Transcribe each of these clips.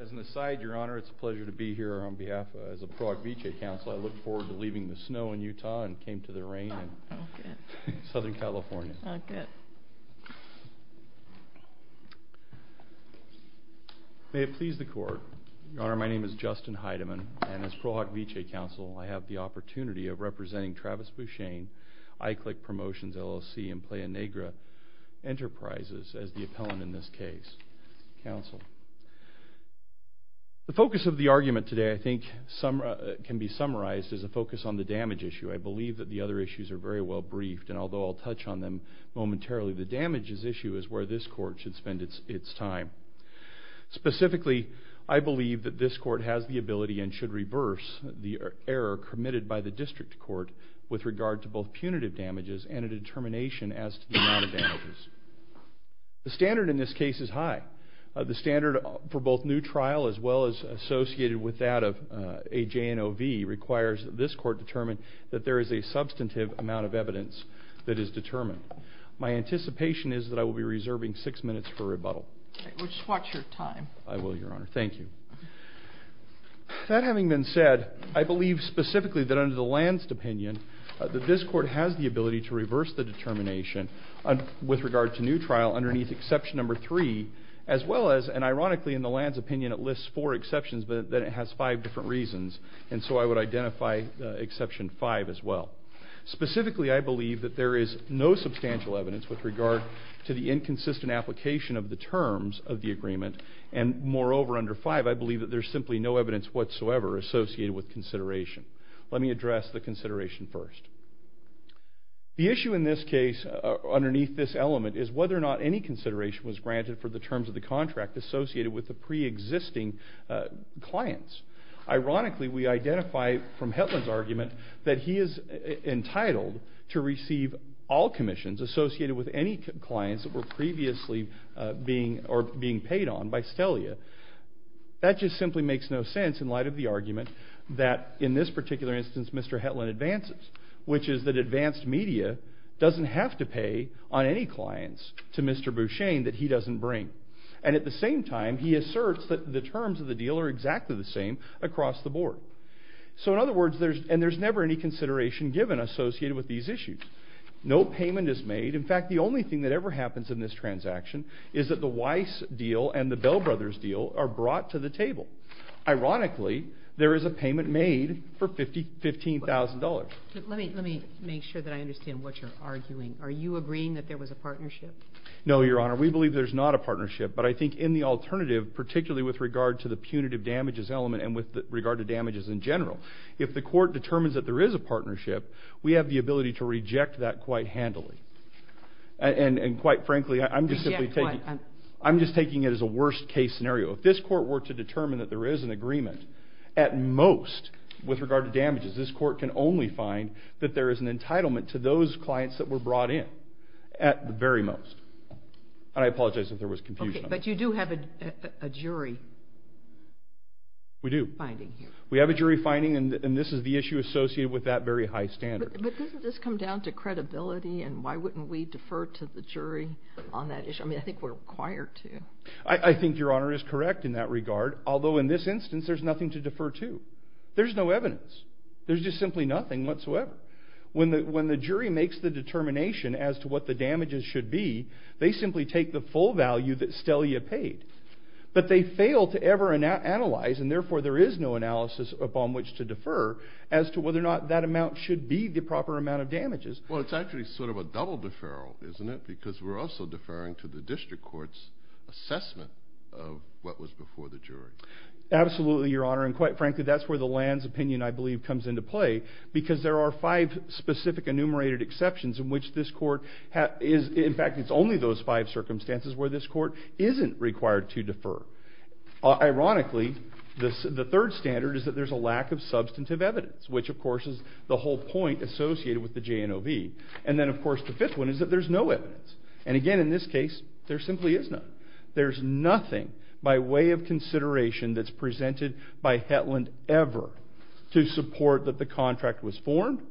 As an aside, Your Honor, it's a pleasure to be here on behalf of the Pro Hoc Vitae Council. I look forward to leaving the snow in Utah and came to the rain in Southern California. May it please the court. Your Honor, my name is Justin Heidemann, and as Pro Hoc Vitae Council, I have the opportunity of representing Travis Beauchesne, ICLIC Promotions LLC, and Playa Negra Enterprises as the appellant in this case. Counsel. The focus of the argument today, I think, can be summarized as a focus on the damage issue. I believe that the other issues are very well briefed, and although I'll touch on them momentarily, the damages issue is where this court should spend its time. Specifically, I believe that this court has the ability and should reverse the error committed by the district court with regard to both punitive damages and a determination as to the amount of damages. The standard in this case is high. The standard for both new trial as well as associated with that of AJNOV requires that this court determine that there is a substantive amount of evidence that is determined. My anticipation is that I will be reserving six minutes for rebuttal. Okay. Just watch your time. I will, Your Honor. Thank you. That having been said, I believe specifically that under the Lansd opinion, that this court has the ability to reverse the determination with regard to new trial underneath exception number three, as well as, and ironically in the Lansd opinion, it lists four exceptions, but then it has five different reasons, and so I would identify exception five as well. Specifically, I believe that there is no substantial evidence with regard to the inconsistent application of the terms of the agreement, and moreover, under five, I believe that there's simply no evidence whatsoever associated with consideration. Let me address the consideration first. The issue in this case, underneath this element, is whether or not any consideration was granted for the terms of the contract associated with the pre-existing clients. Ironically, we identify from Hetland's argument that he is entitled to receive all commissions associated with any clients that were previously being paid on by Stelia. That just simply makes no sense in light of the argument that in this particular instance, Mr. Hetland advances, which is that advanced media doesn't have to pay on any clients to Mr. Bouchain that he doesn't bring. And at the same time, he asserts that the terms of the deal are exactly the same across the board. So in other words, there's... And there's never any consideration given associated with these issues. No payment is made. In fact, the only thing that ever happens in this transaction is that the Weiss deal and the Bell Brothers deal are brought to the table. Ironically, there is a payment made for $15,000. Let me make sure that I understand what you're arguing. Are you agreeing that there was a partnership? No, Your Honor. We believe there's not a partnership. But I think in the alternative, particularly with regard to the punitive damages element and with regard to damages in general, if the court determines that there is a partnership, we have the ability to reject that quite handily. And quite frankly, I'm just simply taking... Reject what? I'm just taking it as a worst case scenario. If this court were to determine that there is an agreement, at most, with regard to damages, this court can only find that there is an entitlement to those clients that were brought in at the very most. And I apologize if there was confusion. Okay. But you do have a jury... We do. Finding here. We have a jury finding and this is the issue associated with that very high standard. But doesn't this come down to credibility and why wouldn't we defer to the jury on that issue? I think we're required to. I think Your Honor is correct in that regard. Although in this instance, there's nothing to defer to. There's no evidence. There's just simply nothing whatsoever. When the jury makes the determination as to what the damages should be, they simply take the full value that Stelia paid. But they fail to ever analyze and therefore there is no analysis upon which to defer as to whether or not that amount should be the proper amount of damages. Well, it's actually sort of a double deferral, isn't it? Because we're also deferring to the district court's assessment of what was before the jury. Absolutely, Your Honor. And quite frankly, that's where the lands opinion, I believe, comes into play because there are five specific enumerated exceptions in which this court... In fact, it's only those five circumstances where this court isn't required to defer. Ironically, the third standard is that there's a lack of substantive evidence, which of course is the whole point associated with the JNOV. And then of course the fifth one is that there's no evidence. And again, in this case, there simply is none. There's nothing by way of consideration that's presented by Hetland ever to support that the contract was formed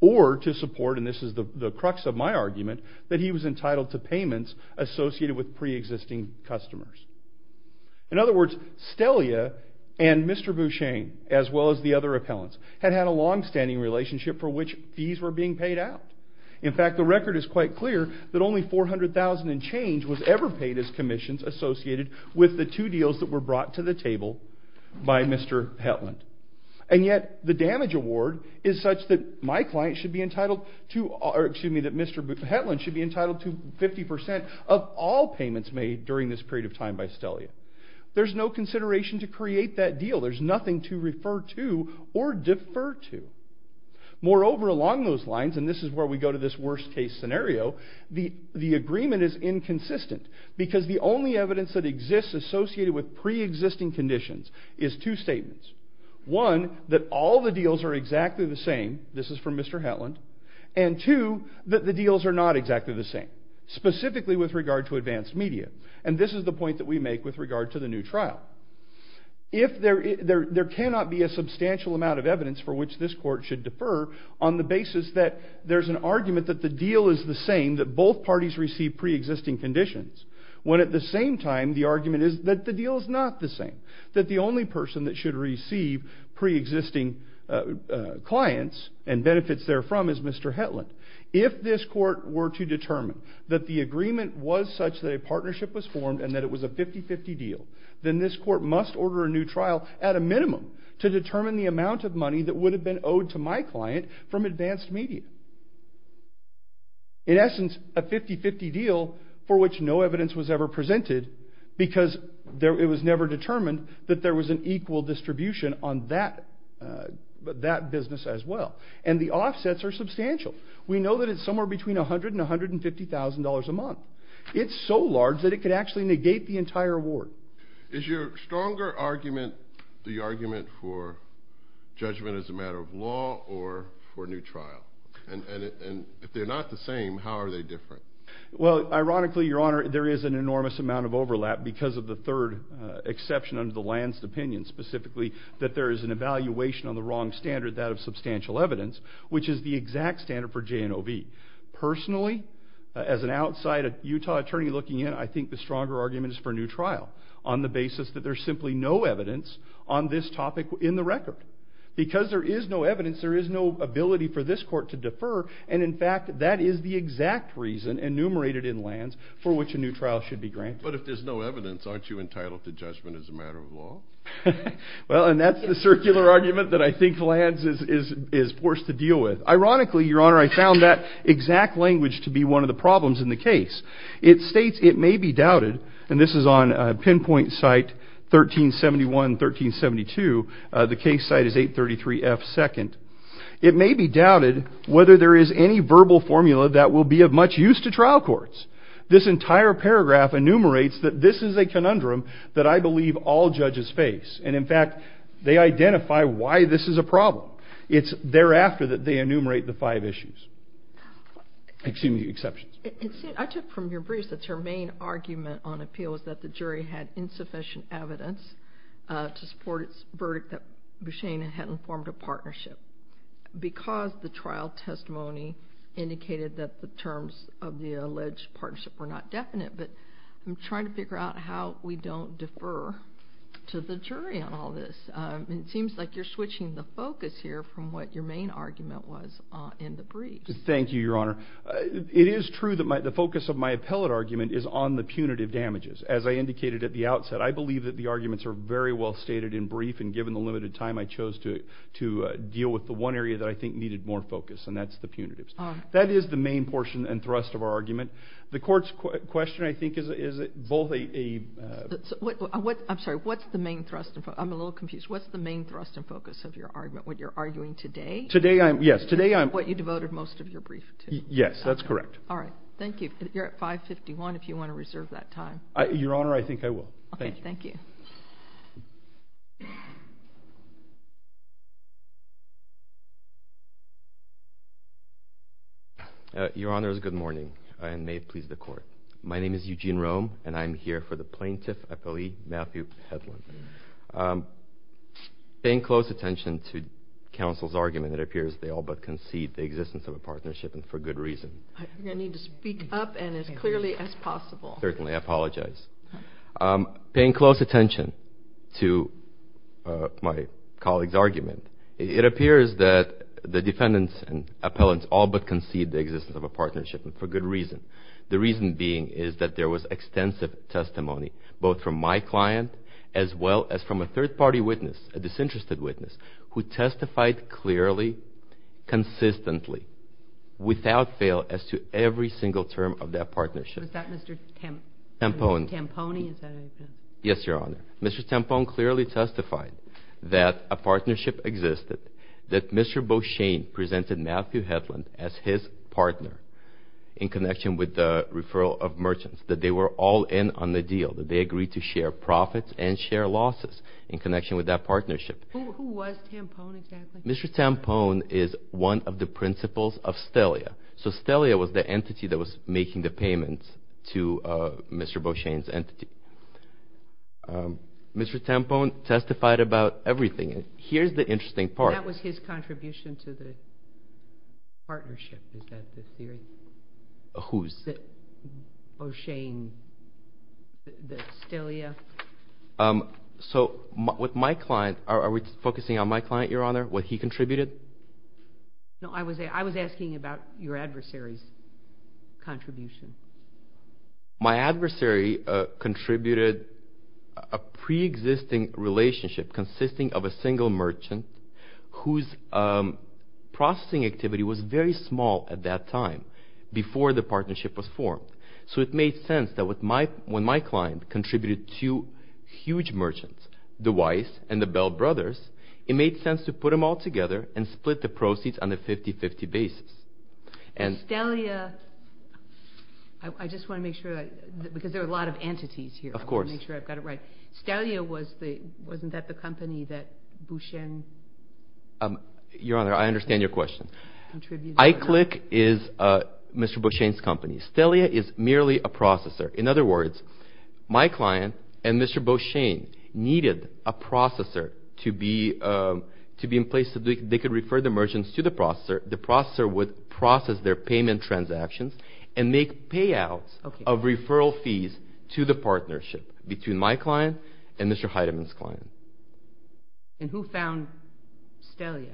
or to support, and this is the crux of my argument, that he was entitled to payments associated with pre-existing customers. In other words, Stellia and Mr. Bouchang, as well as the other appellants, had had a longstanding relationship for which fees were being paid out. In fact, the record is quite clear that only 400,000 and change was ever paid as commissions associated with the two deals that were brought to the table by Mr. Hetland. And yet the damage award is such that my client should be entitled to... Or excuse me, all payments made during this period of time by Stellia. There's no consideration to create that deal. There's nothing to refer to or defer to. Moreover, along those lines, and this is where we go to this worst case scenario, the agreement is inconsistent because the only evidence that exists associated with pre-existing conditions is two statements. One, that all the deals are exactly the same. This is from Mr. Hetland. And two, that the deals are not exactly the same, specifically with regard to advanced media. And this is the point that we make with regard to the new trial. There cannot be a substantial amount of evidence for which this court should defer on the basis that there's an argument that the deal is the same, that both parties receive pre-existing conditions. When at the same time, the argument is that the deal is not the same. That the only person that should receive pre-existing clients and benefits therefrom is Mr. Hetland. If this court were to determine that the agreement was such that a partnership was formed and that it was a 50-50 deal, then this court must order a new trial at a minimum to determine the amount of money that would have been owed to my client from advanced media. In essence, a 50-50 deal for which no evidence was ever presented because it was never determined that there was an equal distribution on that business as well. And the offsets are substantial. We know that it's somewhere between $100,000 and $150,000 a month. It's so large that it could actually negate the entire award. Is your stronger argument the argument for judgment as a matter of law or for a new trial? And if they're not the same, how are they different? Well, ironically, Your Honor, there is an enormous amount of overlap because of the third exception under the Lansd opinion, specifically that there is an evaluation on the wrong standard, that of substantial evidence, which is the exact standard for J&OB. Personally, as an outside Utah attorney looking in, I think the stronger argument is for a new trial on the basis that there's simply no evidence on this topic in the record. Because there is no evidence, there is no ability for this court to defer. And in fact, that is the exact reason enumerated in Lansd for which a new trial should be granted. But if there's no evidence, aren't you entitled to judgment as a matter of law? Well, and that's the circular argument that I think Lansd is forced to deal with. Ironically, Your Honor, I found that exact language to be one of the problems in the case. It states it may be doubted, and this is on pinpoint site 1371, 1372. The case site is 833F 2nd. It may be doubted whether there is any verbal formula that will be of much use to trial courts. This entire paragraph enumerates that this is a conundrum that I believe all judges face. And in fact, they identify why this is a problem. It's thereafter that they enumerate the five issues. Excuse me, exceptions. I took from your briefs that your main argument on appeal is that the jury had insufficient evidence to support its verdict that Bousheyna hadn't formed a partnership because the trial testimony indicated that the terms of the alleged partnership were not definite. But I'm trying to figure out how we don't defer to the jury on all this. It seems like you're shifting the focus here from what your main argument was in the briefs. Thank you, Your Honor. It is true that the focus of my appellate argument is on the punitive damages. As I indicated at the outset, I believe that the arguments are very well stated in brief, and given the limited time I chose to deal with the one area that I think needed more focus, and that's the punitives. That is the main portion and thrust of our argument. The court's question, I think, is both a... I'm sorry. What's the main thrust and focus? I'm a little confused. What's the main thrust and focus of your argument? What you're arguing today? Today, I'm... Yes. Today, I'm... What you devoted most of your brief to. Yes, that's correct. All right. Thank you. You're at 5.51 if you want to reserve that time. Your Honor, I think I will. Thank you. Okay. Thank you. Your Honor, good morning, and may it please the court. My name is Eugene Rome, and I'm here for the plaintiff, Appellee Matthew Hedlund. Paying close attention to counsel's argument, it appears they all but concede the existence of a partnership, and for good reason. I think I need to speak up and as clearly as possible. Certainly. I apologize. Paying close attention to my colleague's argument, it appears that the defendants and appellants all but concede the existence of a partnership, and for good reason. The reason being is that there was extensive testimony, both from my client, as well as from a third party witness, a disinterested witness, who testified clearly, consistently, without fail, as to every single term of that partnership. Was that Mr. Tamponi? Yes, Your Honor. Mr. Tamponi clearly testified that a partnership existed, that Mr. Beauchene presented Matthew Hedlund as his partner, in connection with the referral of merchants, that they were all in on the deal, that they agreed to share profits and share losses, in connection with that partnership. Who was Tamponi, exactly? Mr. Tamponi is one of the principals of Stelia. So Stelia was the entity that was making the payments to Mr. Beauchene's entity. Mr. Tamponi testified about everything. Here's the interesting part. That was his contribution to the partnership, is that the theory? Whose? Beauchene, Stelia. So with my client, are we focusing on my client, Your Honor, what he contributed? No, I was asking about your adversary's contribution. My adversary contributed a pre-existing relationship, consisting of a single merchant, whose processing activity was very small at that time, before the partnership was formed. So it made sense that when my client contributed two huge merchants, the Weiss and the Bell brothers, it made sense to put them all together and split the proceeds on a 50-50 basis. And Stelia, I just want to make sure, because there are a lot of entities here, I want to make sure I've got it right. Stelia, wasn't that the company that Beauchene contributed? Your Honor, I understand your question. iClick is Mr. Beauchene's company. Stelia is merely a processor. In other words, my client and Mr. Beauchene needed a processor to be in place so they could refer the merchants to the processor. The processor would process their payment transactions and make payouts of referral fees to the partnership between my client and Mr. Heideman's client. And who found Stelia?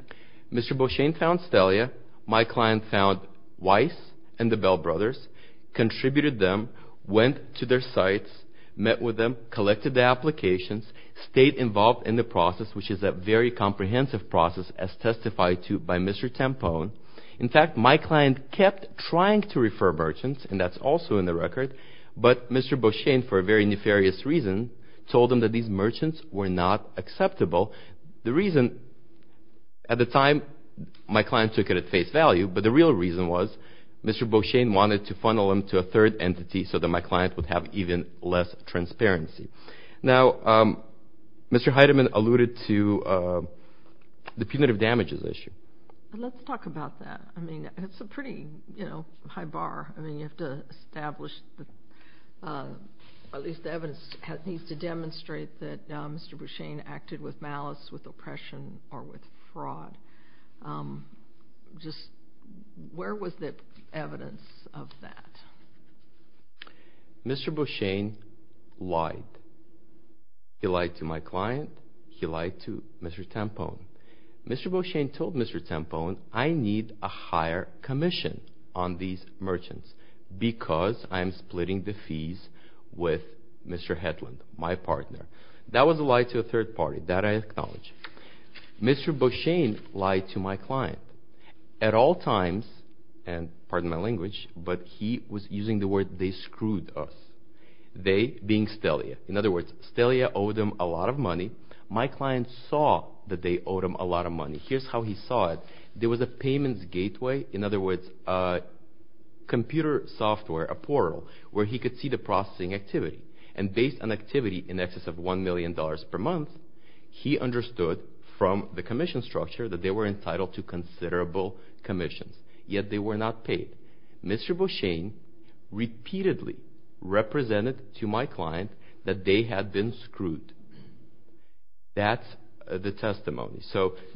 Mr. Beauchene found Stelia. My client found Weiss and the Bell brothers, contributed them, went to their sites, met with them, collected the applications, stayed involved in the process, which is a very comprehensive process, as testified to by Mr. Tampone. In fact, my client kept trying to refer merchants, and that's also in the record, but Mr. Beauchene, for a very nefarious reason, told them that these merchants were not acceptable. The reason, at the time, my client took it at face value, but the real reason was Mr. Beauchene wanted to funnel them to a third entity so that my client would have even less transparency. Now, Mr. Heideman alluded to the punitive damages issue. Let's talk about that. It's a pretty high bar. You have to establish, at least the evidence needs to demonstrate that Mr. Beauchene acted with malice, with oppression, or with fraud. Where was the evidence of that? Mr. Beauchene lied. He lied to my client. He lied to Mr. Tampone. Mr. Beauchene told Mr. Tampone, I need a higher commission on these merchants because I'm splitting the fees with Mr. Hedlund, my partner. That was a lie to a third party. That I acknowledge. Mr. Beauchene lied to my client. At all times, and pardon my language, but he was using the word, they screwed us. They being Stelia. In other words, Stelia owed him a lot of money. My client saw that they owed him a lot of money. Here's how he saw it. There was a payments gateway. In other words, a computer software, a portal, where he could see the processing activity. Based on activity in excess of $1 million per month, he understood from the commission structure that they were entitled to considerable commissions, yet they were not paid. Mr. Beauchene repeatedly represented to my client that they had been screwed. That's the testimony.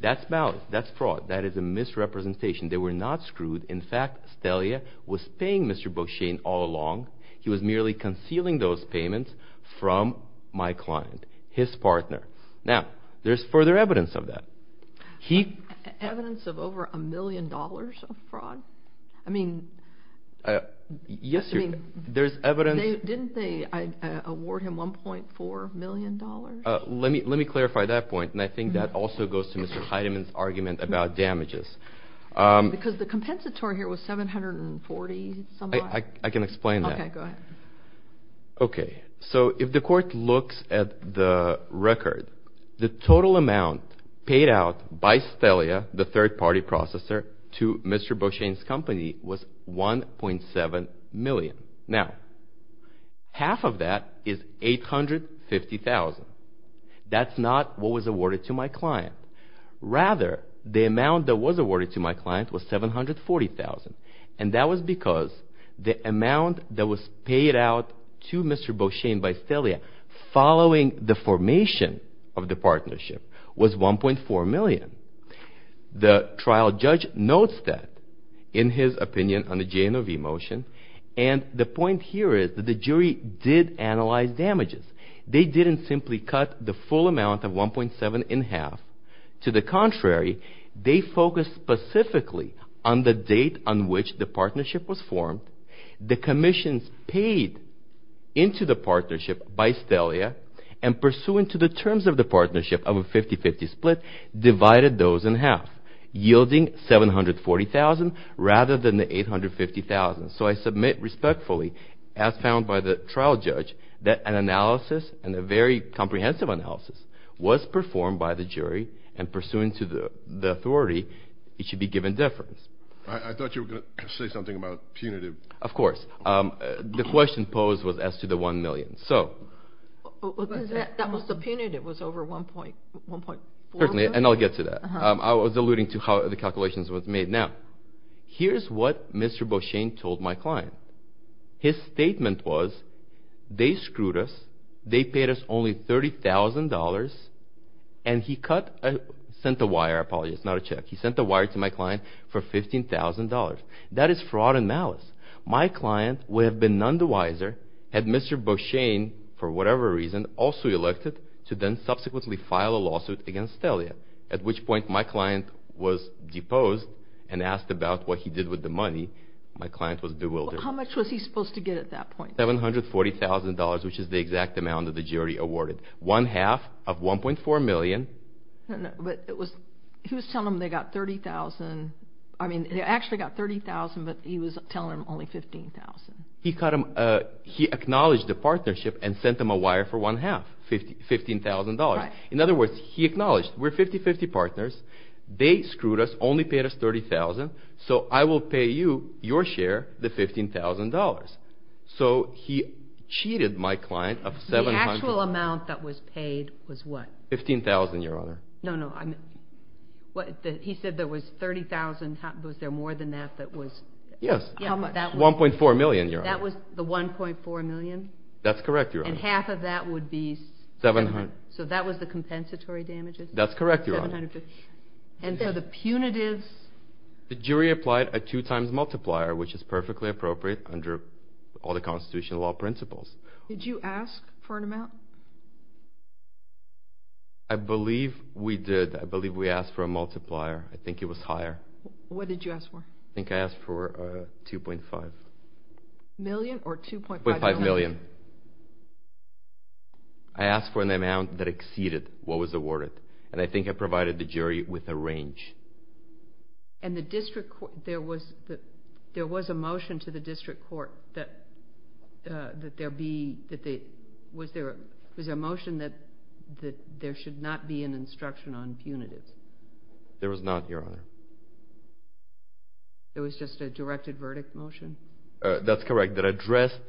That's ballot. That's fraud. That is a misrepresentation. They were not screwed. In fact, Stelia was paying Mr. Beauchene all along. He was merely concealing those payments from my client, his partner. Now, there's further evidence of that. Evidence of over $1 million of fraud? I mean... Yes, there's evidence. Didn't they award him $1.4 million? Let me clarify that point. I think that also goes to Mr. Heidemann's argument about damages. Because the compensatory here was $740. I can explain that. Okay, go ahead. Okay. If the court looks at the record, the total amount paid out by Stelia, the third party processor, to Mr. Beauchene's company was $1.7 million. Now, half of that is $850,000. That's not what was awarded to my client. Rather, the amount that was awarded to my client was $740,000. And that was because the amount that was paid out to Mr. Beauchene by Stelia following the formation of the in his opinion on the JNOV motion. And the point here is that the jury did analyze damages. They didn't simply cut the full amount of $1.7 in half. To the contrary, they focused specifically on the date on which the partnership was formed, the commissions paid into the partnership by Stelia, and pursuant to the terms of the partnership of a 50-50 split, divided those in half, yielding $740,000 rather than the $850,000. So I submit respectfully, as found by the trial judge, that an analysis, and a very comprehensive analysis, was performed by the jury, and pursuant to the authority, it should be given deference. I thought you were going to say something about punitive. Of course. The question posed was as to the $1 million. That was the punitive over $1.4 million? Certainly, and I'll get to that. I was alluding to how the calculations were made. Now, here's what Mr. Beauchene told my client. His statement was they screwed us, they paid us only $30,000, and he sent a wire, I apologize, not a check. He sent a wire to my client for $15,000. That is fraud and malice. My client would have been none the wiser had Mr. Beauchene, for whatever reason, also elected to then subsequently file a lawsuit against Telia, at which point my client was deposed and asked about what he did with the money. My client was bewildered. How much was he supposed to get at that point? $740,000, which is the exact amount that the jury awarded. One half of $1.4 million. But he was telling them they got $30,000. I mean, they actually got $30,000, but he was telling them only $15,000. He acknowledged the partnership and sent them a wire for one half, $15,000. In other words, he acknowledged we're 50-50 partners. They screwed us, only paid us $30,000, so I will pay you, your share, the $15,000. So he cheated my client of $700,000. The actual amount that was paid was what? $15,000, Your Honor. No, no. He said there was $30,000. Was there more than that? Yes. $1.4 million, Your Honor. That was the $1.4 million? That's correct, Your Honor. And half of that would be? $700,000. So that was the compensatory damages? That's correct, Your Honor. $750,000. And for the punitives? The jury applied a two-times multiplier, which is perfectly appropriate under all the constitutional law principles. Did you ask for an amount? I believe we did. I believe we asked for a multiplier. I think it was higher. What did you ask for? I think I asked for $2.5 million or $2.5 million. $2.5 million. I asked for an amount that exceeded what was awarded, and I think I provided the jury with a range. And the district court, there was a motion to the district court that there be, was there a motion that there should not be an instruction on punitives? There was not, Your Honor. Was there a verdict motion? That's correct, that addressed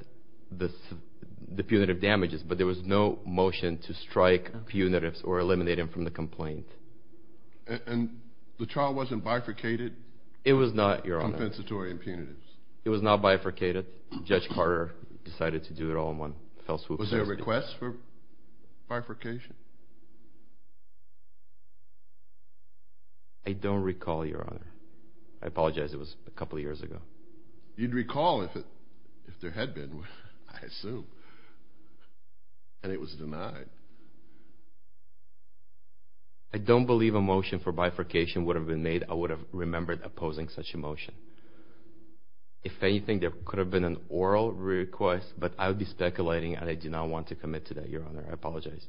the punitive damages, but there was no motion to strike punitives or eliminate him from the complaint. And the trial wasn't bifurcated? It was not, Your Honor. Compensatory and punitives. It was not bifurcated. Judge Carter decided to do it all in one fell swoop. Was there a request for bifurcation? I don't recall, Your Honor. I apologize. It was a couple of years ago. You'd recall if there had been, I assume. And it was denied. I don't believe a motion for bifurcation would have been made. I would have remembered opposing such a motion. If anything, there could have been an oral request, but I would be speculating, and I do not want to commit to that, Your Honor. I apologize.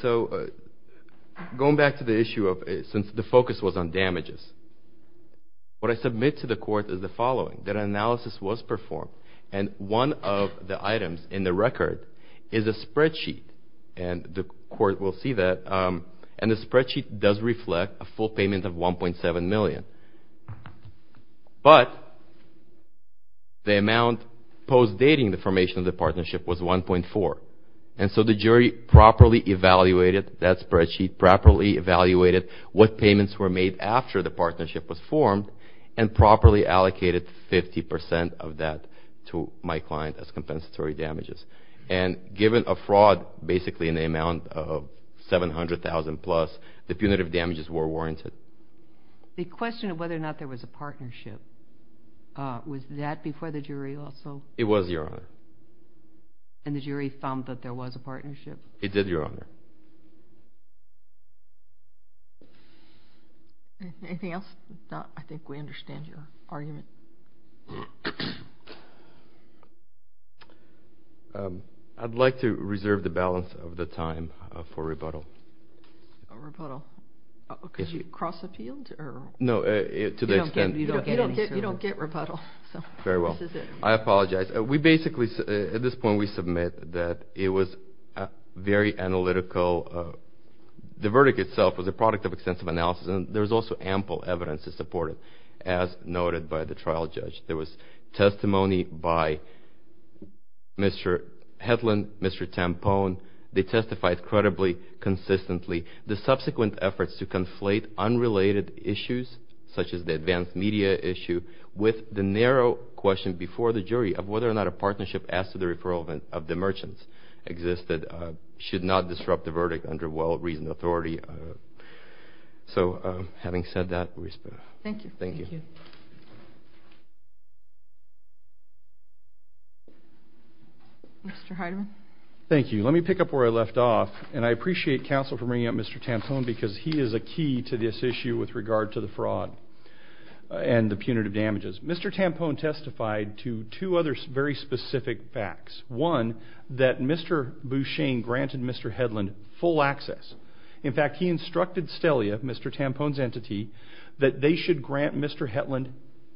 So going back to the issue of, since the focus was on damages, what I submit to the court is the following. That analysis was performed, and one of the items in the record is a spreadsheet. And the court will see that. And the spreadsheet does reflect a full payment of $1.7 million. But the amount post-dating the formation of the partnership was $1.4. And so the jury properly evaluated that spreadsheet, properly evaluated what payments were made after the partnership was formed, and properly allocated 50% of that to my client as compensatory damages. And given a fraud, basically in the amount of $700,000 plus, the punitive damages were warranted. The question of whether or not there was a fraud, it did, Your Honor. Anything else? I think we understand your argument. I'd like to reserve the balance of the time for rebuttal. Rebuttal? Because you cross-appealed? No, to the extent... You don't get rebuttal. Very well. I apologize. We basically, at this point, we submit that it was very analytical. The verdict itself was a product of extensive analysis. And there's also ample evidence to support it, as noted by the trial judge. There was testimony by Mr. Hetland, Mr. Tampone. They testified credibly, consistently. The subsequent efforts to conflate unrelated issues, such as the advanced media issue, with the narrow question before the jury of whether or not a fraud exists, should not disrupt the verdict under well-reasoned authority. So, having said that, we respond. Thank you. Mr. Heideman? Thank you. Let me pick up where I left off. And I appreciate counsel for bringing up Mr. Tampone, because he is a key to this issue with regard to the fraud and the punitive damages. Mr. Tampone testified to two other very specific facts. One, that Mr. Bouchang granted Mr. Hetland full access. In fact, he instructed Stelia, Mr. Tampone's entity, that they should grant Mr. Hetland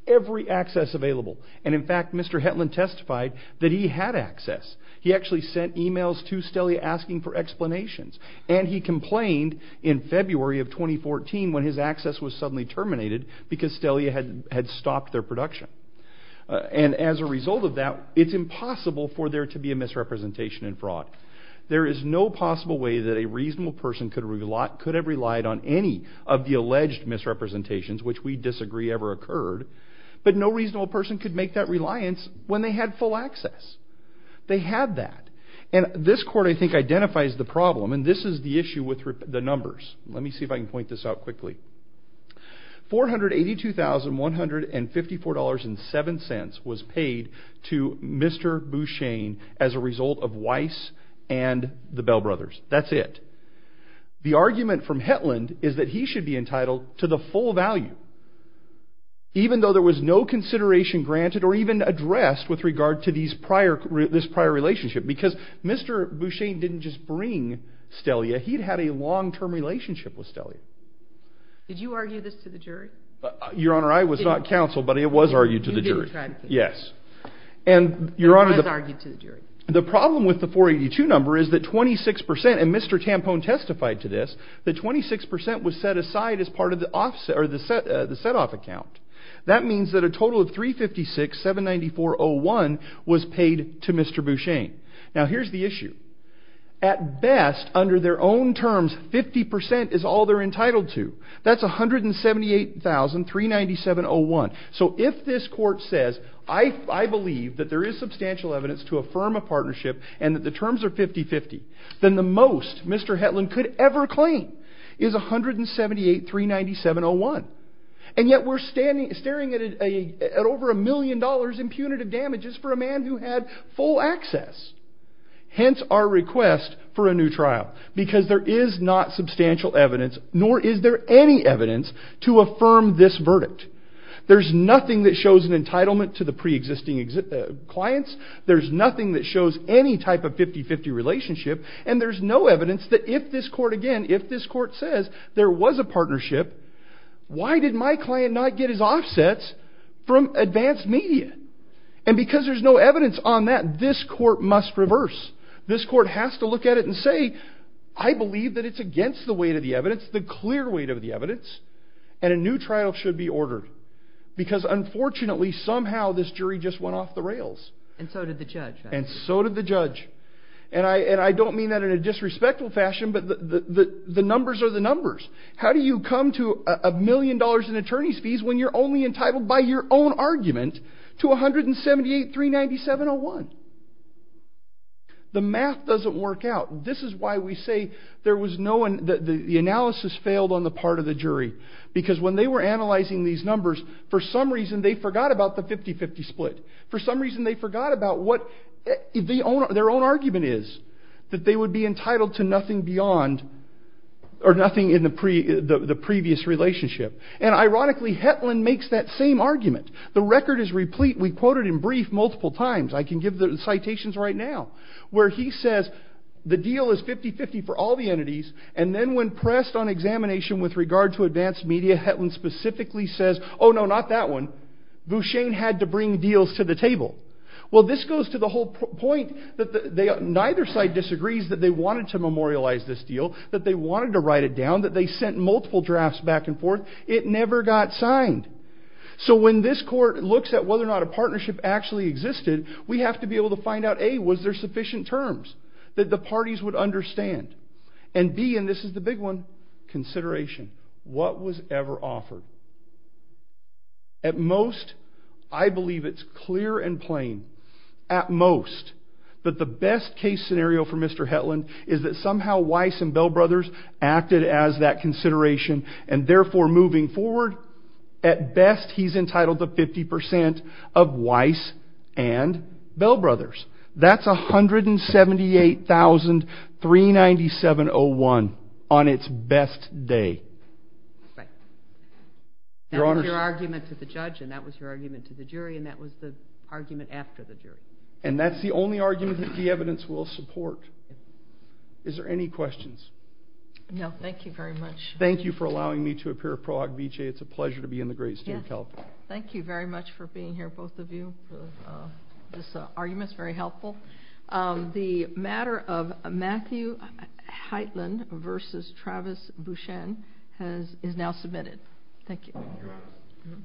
every access available. And in fact, Mr. Hetland testified that he had access. He actually sent emails to Stelia asking for explanations. And he complained in February of 2014, when his access was suddenly terminated, because as a result of that, it's impossible for there to be a misrepresentation in fraud. There is no possible way that a reasonable person could have relied on any of the alleged misrepresentations, which we disagree ever occurred. But no reasonable person could make that reliance when they had full access. They had that. And this court, I think, identifies the problem. And this is the issue with the numbers. Let me to Mr. Bouchang as a result of Weiss and the Bell Brothers. That's it. The argument from Hetland is that he should be entitled to the full value, even though there was no consideration granted or even addressed with regard to this prior relationship. Because Mr. Bouchang didn't just bring Stelia. He'd had a long-term relationship with Stelia. Did you argue this to the jury? Your Honor, I was not counseled, but it was argued to the jury. And I was argued to the jury. The problem with the 482 number is that 26 percent, and Mr. Tampone testified to this, that 26 percent was set aside as part of the set-off account. That means that a total of $356,794.01 was paid to Mr. Bouchang. Now here's the issue. At best, under their own terms, 50 percent is all they're I believe that there is substantial evidence to affirm a partnership, and that the terms are 50-50, then the most Mr. Hetland could ever claim is $178,397.01. And yet we're staring at over a million dollars in punitive damages for a man who had full access. Hence our request for a new trial, because there is not substantial evidence, nor is there any evidence to affirm this verdict. There's nothing that shows an entitlement to the pre-existing clients. There's nothing that shows any type of 50-50 relationship. And there's no evidence that if this court again, if this court says there was a partnership, why did my client not get his offsets from advanced media? And because there's no evidence on that, this court must reverse. This court has to look at it and say, I believe that it's against the weight of the evidence, the clear weight of evidence, and a new trial should be ordered. Because unfortunately, somehow this jury just went off the rails. And so did the judge. And so did the judge. And I don't mean that in a disrespectful fashion, but the numbers are the numbers. How do you come to a million dollars in attorney's fees when you're only entitled by your own argument to $178,397.01? The math doesn't work out. This is why we say there was no analysis failed on the part of the jury. Because when they were analyzing these numbers, for some reason, they forgot about the 50-50 split. For some reason, they forgot about what their own argument is, that they would be entitled to nothing beyond or nothing in the previous relationship. And ironically, Hetland makes that same argument. The record is replete. We quoted in brief multiple times. I can give the citations right now, where he says the deal is 50-50 for all the entities. And then when pressed on examination with regard to advanced media, Hetland specifically says, oh no, not that one. Boucher had to bring deals to the table. Well, this goes to the whole point that neither side disagrees that they wanted to memorialize this deal, that they wanted to write it down, that they sent multiple drafts back and forth. It never got signed. So when this court looks at whether or not a partnership actually existed, we have to be able to find out, A, was there sufficient terms that the parties would understand? And B, and this is the big one, consideration. What was ever offered? At most, I believe it's clear and plain, at most, that the best case scenario for Mr. Hetland is that somehow Weiss and Bell Brothers acted as that consideration, and therefore moving forward, at best, he's entitled to 50% of Weiss and Bell Brothers, 397-01, on its best day. That was your argument to the judge, and that was your argument to the jury, and that was the argument after the jury. And that's the only argument that the evidence will support. Is there any questions? No, thank you very much. Thank you for allowing me to appear, Pro Hoc Vitae. It's a pleasure to be in the great state of California. Thank you very much for being here, both of you. This argument is very helpful. The matter of Matthew Hetland versus Travis Bouchan is now submitted. Thank you.